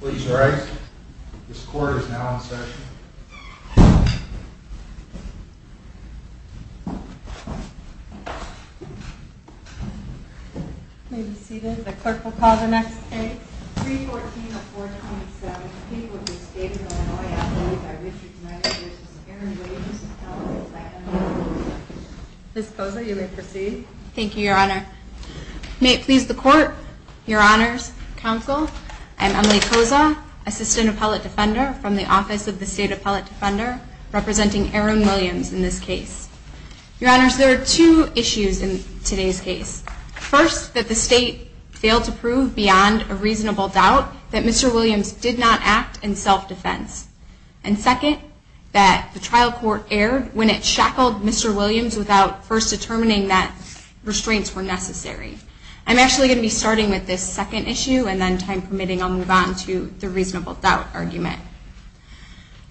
Please rise. This court is now in session. May be seated. The clerk will call the next case. 314-427. The people of the state of Illinois, I believe, I wish you tonight a year's worth of energy, wages, and health. Ms. Boza, you may proceed. Thank you, Your Honor. May it please the Court, Your Honors, Counsel, I'm Emily Boza, Assistant Appellate Defender from the Office of the State Appellate Defender, representing Aaron Williams in this case. Your Honors, there are two issues in today's case. First, that the state failed to prove beyond a reasonable doubt that Mr. Williams did not act in self-defense. And second, that the trial court erred when it shackled Mr. Williams without first determining that restraints were necessary. I'm actually going to be starting with this second issue and then, time permitting, I'll move on to the reasonable doubt argument.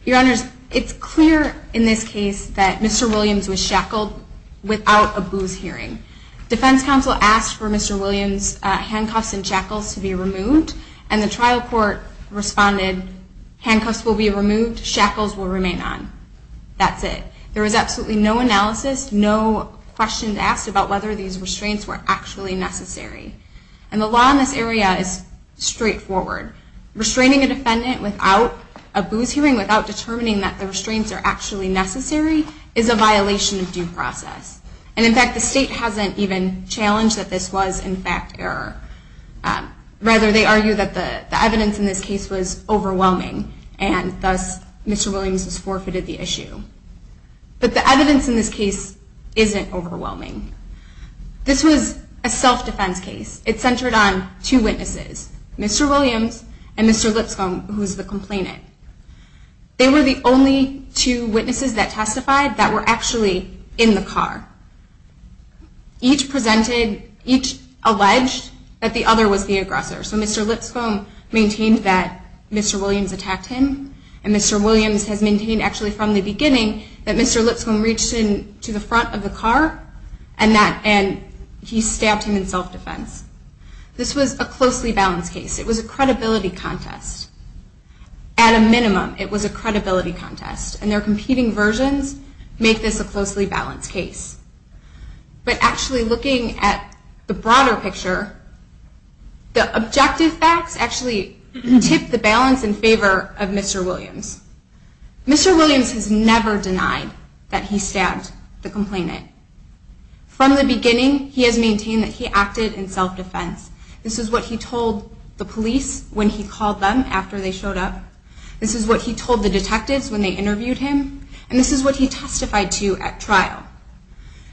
Your Honors, it's clear in this case that Mr. Williams was shackled without a booze hearing. Defense counsel asked for Mr. Williams' handcuffs and shackles to be removed, and the trial court responded, handcuffs will be removed, shackles will remain on. That's it. There was absolutely no analysis, no questions asked about whether these restraints were actually necessary. And the law in this area is straightforward. Restraining a defendant without a booze hearing, without determining that the restraints are actually necessary, is a violation of due process. And, in fact, the state hasn't even challenged that this was, in fact, error. Rather, they argue that the evidence in this case was overwhelming and, thus, Mr. Williams has forfeited the issue. But the evidence in this case isn't overwhelming. This was a self-defense case. It centered on two witnesses, Mr. Williams and Mr. Lipscomb, who is the complainant. They were the only two witnesses that testified that were actually in the car. Each alleged that the other was the aggressor. So Mr. Lipscomb maintained that Mr. Williams attacked him, and Mr. Williams has maintained, actually, from the beginning, that Mr. Lipscomb reached into the front of the car and he stabbed him in self-defense. This was a closely balanced case. It was a credibility contest. At a minimum, it was a credibility contest. And their competing versions make this a closely balanced case. But, actually, looking at the broader picture, the objective facts actually tip the balance in favor of Mr. Williams. Mr. Williams has never denied that he stabbed the complainant. From the beginning, he has maintained that he acted in self-defense. This is what he told the police when he called them after they showed up. This is what he told the detectives when they interviewed him. And this is what he testified to at trial.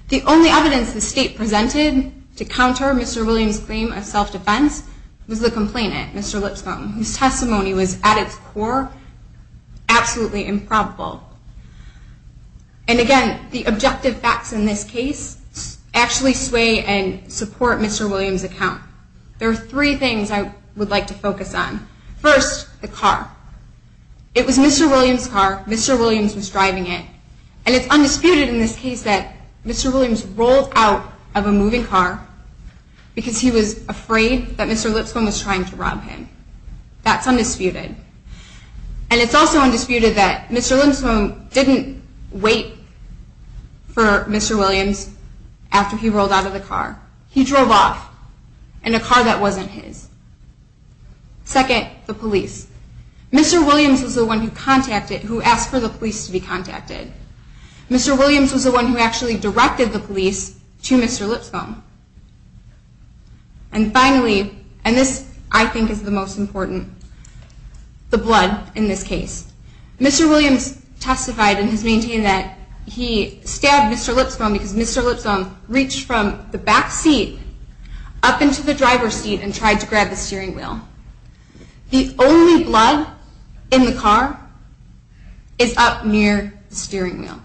The only evidence the state presented to counter Mr. Williams' claim of self-defense was the complainant, Mr. Lipscomb, whose testimony was, at its core, absolutely improbable. And, again, the objective facts in this case actually sway and support Mr. Williams' account. There are three things I would like to focus on. First, the car. It was Mr. Williams' car. Mr. Williams was driving it. And it's undisputed in this case that Mr. Williams rolled out of a moving car because he was afraid that Mr. Lipscomb was trying to rob him. That's undisputed. And it's also undisputed that Mr. Lipscomb didn't wait for Mr. Williams after he rolled out of the car. He drove off in a car that wasn't his. Second, the police. Mr. Williams was the one who asked for the police to be contacted. Mr. Williams was the one who actually directed the police to Mr. Lipscomb. And finally, and this, I think, is the most important, the blood in this case. Mr. Williams testified and has maintained that he stabbed Mr. Lipscomb because Mr. Lipscomb reached from the back seat up into the driver's seat and tried to grab the steering wheel. The only blood in the car is up near the steering wheel.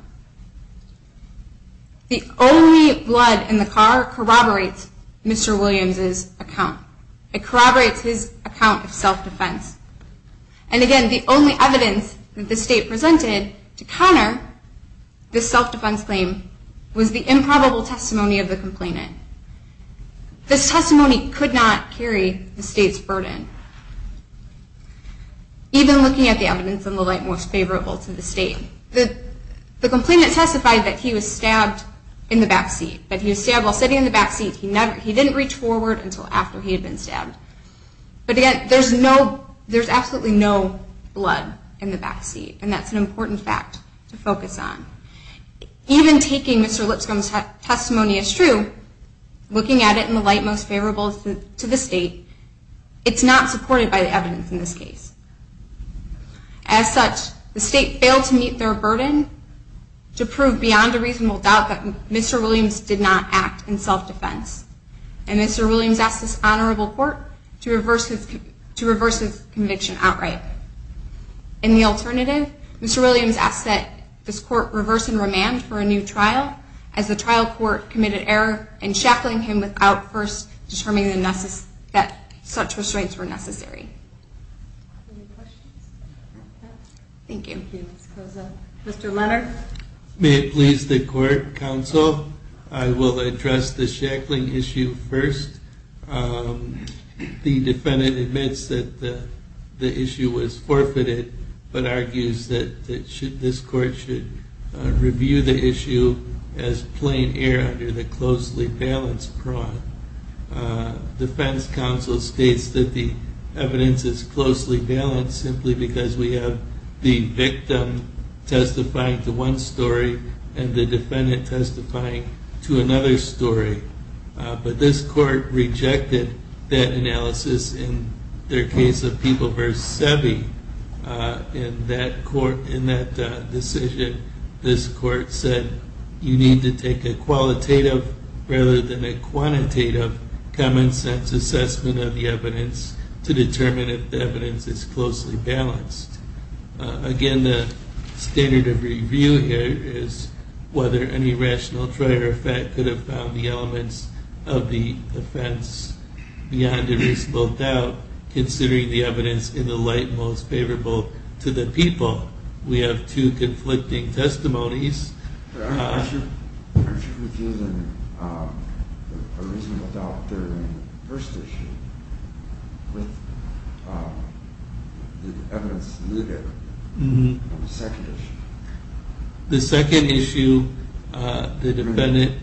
The only blood in the car corroborates Mr. Williams' account. It corroborates his account of self-defense. And again, the only evidence that the state presented to counter this self-defense claim was the improbable testimony of the complainant. This testimony could not carry the state's burden. Even looking at the evidence in the light most favorable to the state, the complainant testified that he was stabbed in the back seat, that he was stabbed while sitting in the back seat. He didn't reach forward until after he had been stabbed. But again, there's absolutely no blood in the back seat, and that's an important fact to focus on. Even taking Mr. Lipscomb's testimony as true, looking at it in the light most favorable to the state, it's not supported by the evidence in this case. As such, the state failed to meet their burden to prove beyond a reasonable doubt that Mr. Williams did not act in self-defense. And Mr. Williams asked this honorable court to reverse his conviction outright. In the alternative, Mr. Williams asked that this court reverse in remand for a new trial as the trial court committed error in shackling him without first determining that such restraints were necessary. Thank you. Thank you, Ms. Koza. Mr. Leonard? May it please the court, counsel, I will address the shackling issue first. The defendant admits that the issue was forfeited, but argues that this court should review the issue as plain air under the closely balanced prong. Defense counsel states that the evidence is closely balanced simply because we have the victim testifying to one story and the defendant testifying to another story. But this court rejected that analysis in their case of People v. Sebi. In that decision, this court said you need to take a qualitative rather than a quantitative common sense assessment of the evidence to determine if the evidence is closely balanced. Again, the standard of review here is whether any rational trier effect could have found the elements of the offense beyond a reasonable doubt, considering the evidence in the light most favorable to the people. We have two conflicting testimonies. But aren't you refusing a reasonable doubt during the first issue with the evidence eluded on the second issue? The second issue, the defendant… Yes.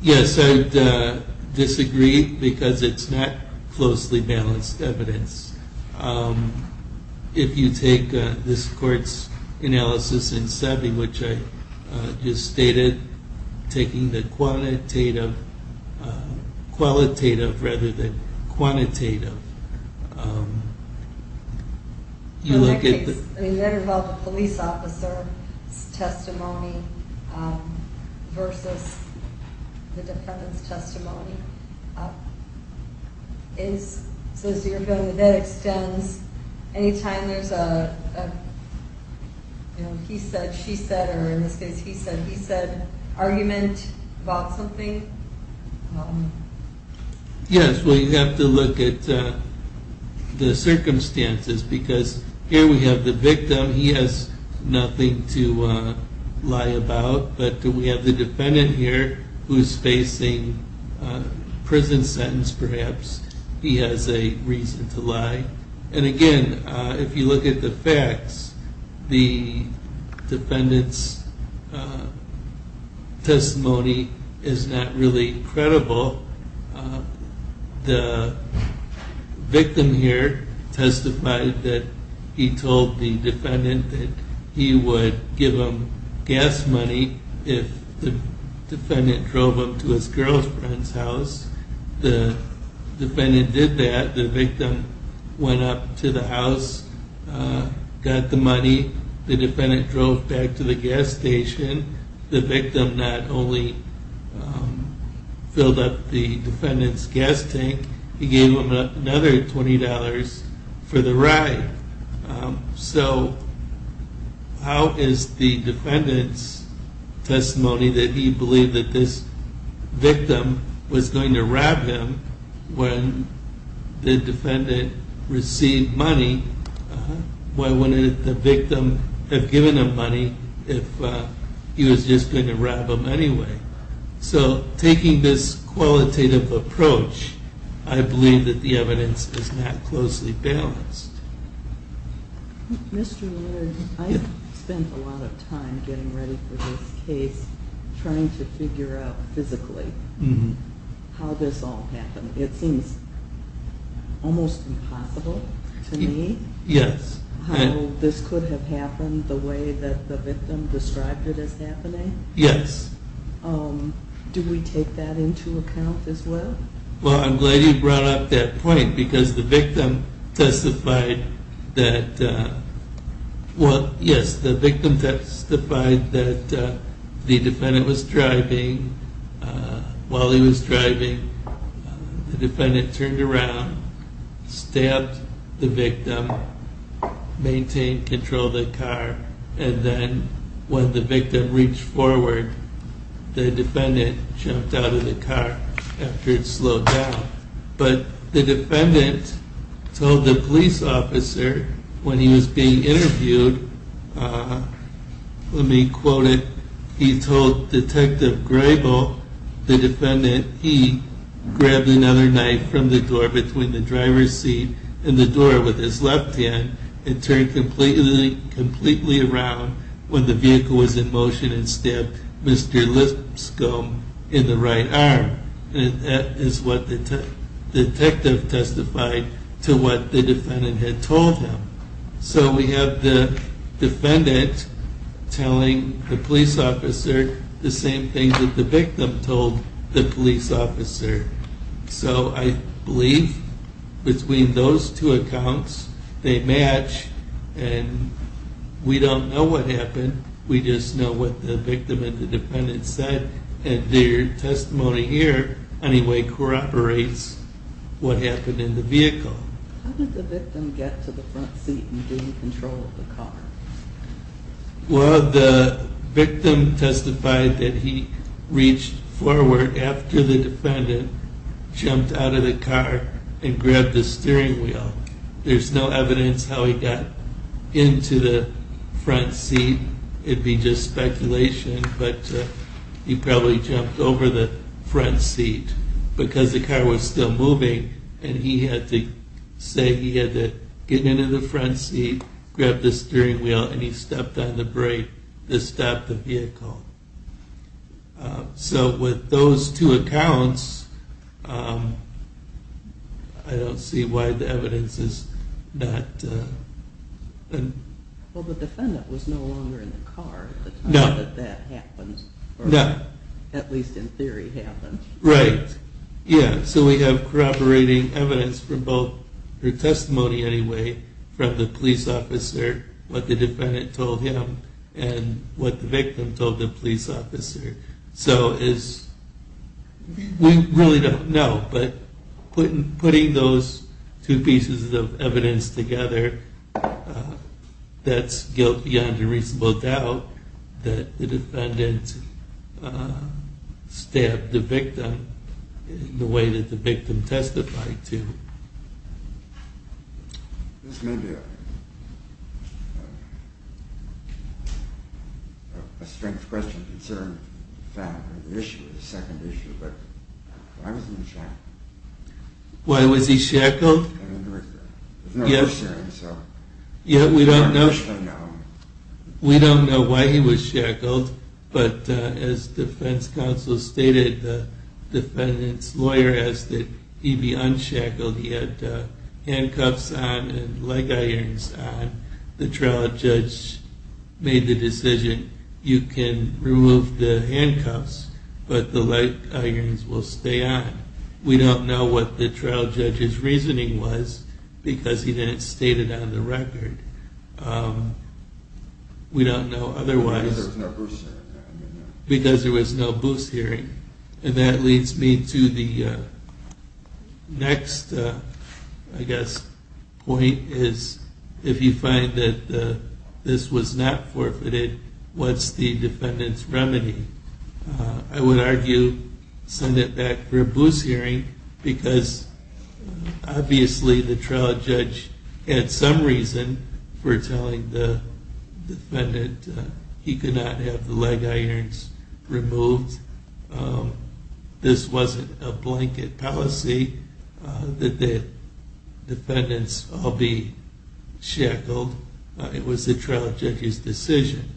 Yes, I disagree because it's not closely balanced evidence. If you take this court's analysis in Sebi, which I just stated, taking the qualitative rather than quantitative you look at the… In that case, I mean, that involved a police officer's testimony versus the defendant's testimony. So you're feeling that that extends anytime there's a, you know, he said, she said, or in this case he said, he said, argument about something? Yes, well, you have to look at the circumstances because here we have the victim. He has nothing to lie about. But we have the defendant here who's facing a prison sentence perhaps. He has a reason to lie. And again, if you look at the facts, the defendant's testimony is not really credible. The victim here testified that he told the defendant that he would give him gas money if the defendant drove him to his girlfriend's house. The defendant did that. The victim went up to the house, got the money. The defendant drove back to the gas station. The victim not only filled up the defendant's gas tank, he gave him another $20 for the ride. So how is the defendant's testimony that he believed that this victim was going to rob him when the defendant received money? Why wouldn't the victim have given him money if he was just going to rob him anyway? So taking this qualitative approach, I believe that the evidence is not closely balanced. Mr. Lewis, I spent a lot of time getting ready for this case trying to figure out physically how this all happened. It seems almost impossible to me how this could have happened the way that the victim described it as happening. Yes. Do we take that into account as well? Well, I'm glad you brought up that point because the victim testified that, the defendant was driving. While he was driving, the defendant turned around, stabbed the victim, maintained control of the car, and then when the victim reached forward, the defendant jumped out of the car after it slowed down. But the defendant told the police officer when he was being interviewed, let me quote it, he told Detective Grebel, the defendant, he grabbed another knife from the door between the driver's seat and the door with his left hand and turned completely around when the vehicle was in motion and stabbed Mr. Lipscomb in the right arm. That is what the detective testified to what the defendant had told him. So we have the defendant telling the police officer the same thing that the victim told the police officer. So I believe between those two accounts, they match and we don't know what happened. We just know what the victim and the defendant said and their testimony here, anyway, corroborates what happened in the vehicle. How did the victim get to the front seat and gain control of the car? Well, the victim testified that he reached forward after the defendant jumped out of the car and grabbed the steering wheel. There's no evidence how he got into the front seat. It'd be just speculation, but he probably jumped over the front seat because the car was still moving and he had to say he had to get into the front seat, grab the steering wheel, and he stepped on the brake to stop the vehicle. So with those two accounts, I don't see why the evidence is not... Well, the defendant was no longer in the car at the time that that happened, or at least in theory happened. Right, yeah, so we have corroborating evidence for both, or testimony anyway, from the police officer, what the defendant told him and what the victim told the police officer. So we really don't know, but putting those two pieces of evidence together, that's guilt beyond a reasonable doubt that the defendant stabbed the victim in the way that the victim testified to. This may be a strength question, a concern, or the issue, or the second issue, but why was he shackled? Why was he shackled? Yeah, we don't know. We don't know why he was shackled, but as defense counsel stated, the defendant's lawyer asked that he be unshackled. He had handcuffs on and leg irons on. The trial judge made the decision, you can remove the handcuffs, but the leg irons will stay on. We don't know what the trial judge's reasoning was, because he didn't state it on the record. We don't know otherwise. Because there was no boost hearing. Because there was no boost hearing. And that leads me to the next, I guess, point, is if you find that this was not forfeited, what's the defendant's remedy? I would argue send it back for a boost hearing, because obviously the trial judge had some reason for telling the defendant he could not have the leg irons removed. This wasn't a blanket policy that the defendants all be shackled. It was the trial judge's decision.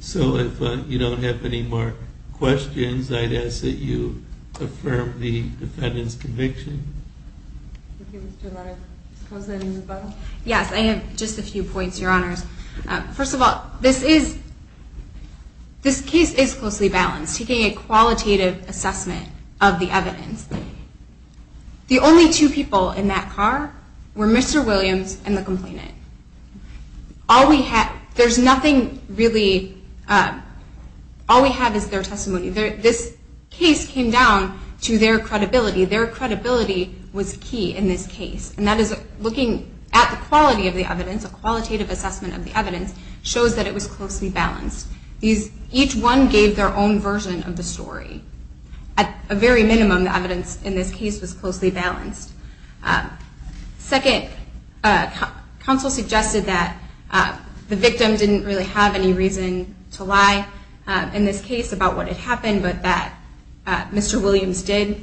So if you don't have any more questions, I'd ask that you affirm the defendant's conviction. Okay, Mr. Larkin. Yes, I have just a few points, Your Honors. First of all, this case is closely balanced. Taking a qualitative assessment of the evidence, the only two people in that car were Mr. Williams and the complainant. All we have is their testimony. This case came down to their credibility. Their credibility was key in this case. And that is looking at the quality of the evidence, a qualitative assessment of the evidence, shows that it was closely balanced. Each one gave their own version of the story. At a very minimum, the evidence in this case was closely balanced. Second, counsel suggested that the victim didn't really have any reason to lie in this case about what had happened, but that Mr. Williams did.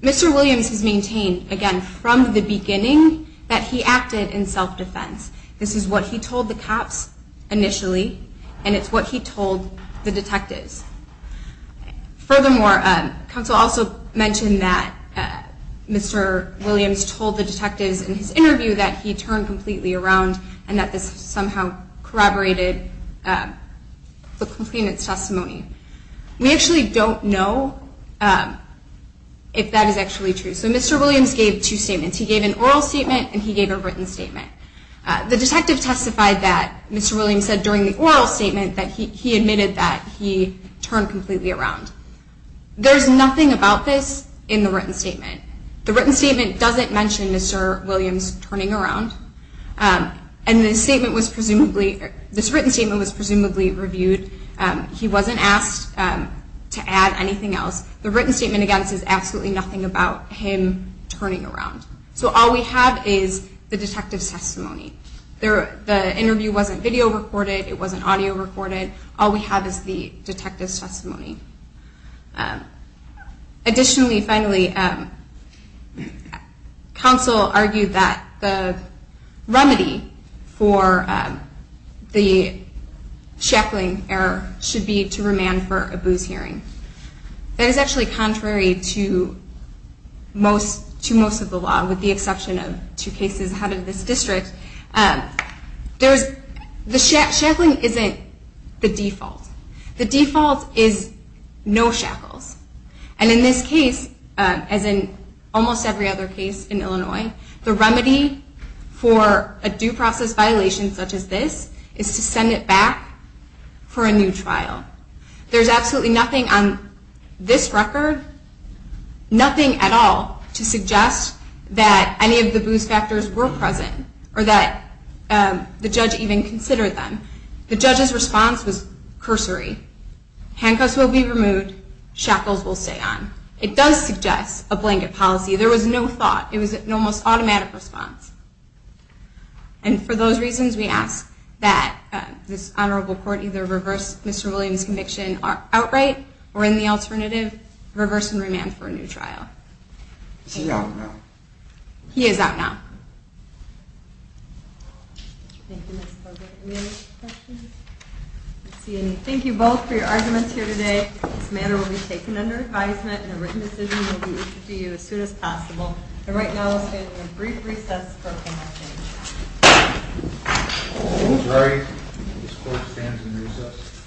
Mr. Williams has maintained, again, from the beginning, that he acted in self-defense. This is what he told the cops initially, and it's what he told the detectives. Furthermore, counsel also mentioned that Mr. Williams told the detectives in his interview that he turned completely around and that this somehow corroborated the complainant's testimony. We actually don't know if that is actually true. So Mr. Williams gave two statements. He gave an oral statement and he gave a written statement. The detective testified that Mr. Williams said during the oral statement that he admitted that he turned completely around. There's nothing about this in the written statement. The written statement doesn't mention Mr. Williams turning around, and this written statement was presumably reviewed. He wasn't asked to add anything else. The written statement, again, says absolutely nothing about him turning around. So all we have is the detective's testimony. The interview wasn't video recorded. It wasn't audio recorded. All we have is the detective's testimony. Additionally, finally, counsel argued that the remedy for the Shackling error should be to remand for a booze hearing. That is actually contrary to most of the law, with the exception of two cases ahead of this district. The Shackling isn't the default. The default is no shackles. And in this case, as in almost every other case in Illinois, the remedy for a due process violation such as this is to send it back for a new trial. There's absolutely nothing on this record, nothing at all, to suggest that any of the booze factors were present or that the judge even considered them. The judge's response was cursory. Handcuffs will be removed. Shackles will stay on. It does suggest a blanket policy. There was no thought. It was an almost automatic response. And for those reasons, we ask that this honorable court either reverse Mr. Williams' conviction outright or, in the alternative, reverse and remand for a new trial. Is he out now? He is out now. Thank you both for your arguments here today. This matter will be taken under advisement and a written decision will be issued to you as soon as possible. And right now, we'll stand in a brief recess for comments. I'm sorry. This court stands in recess.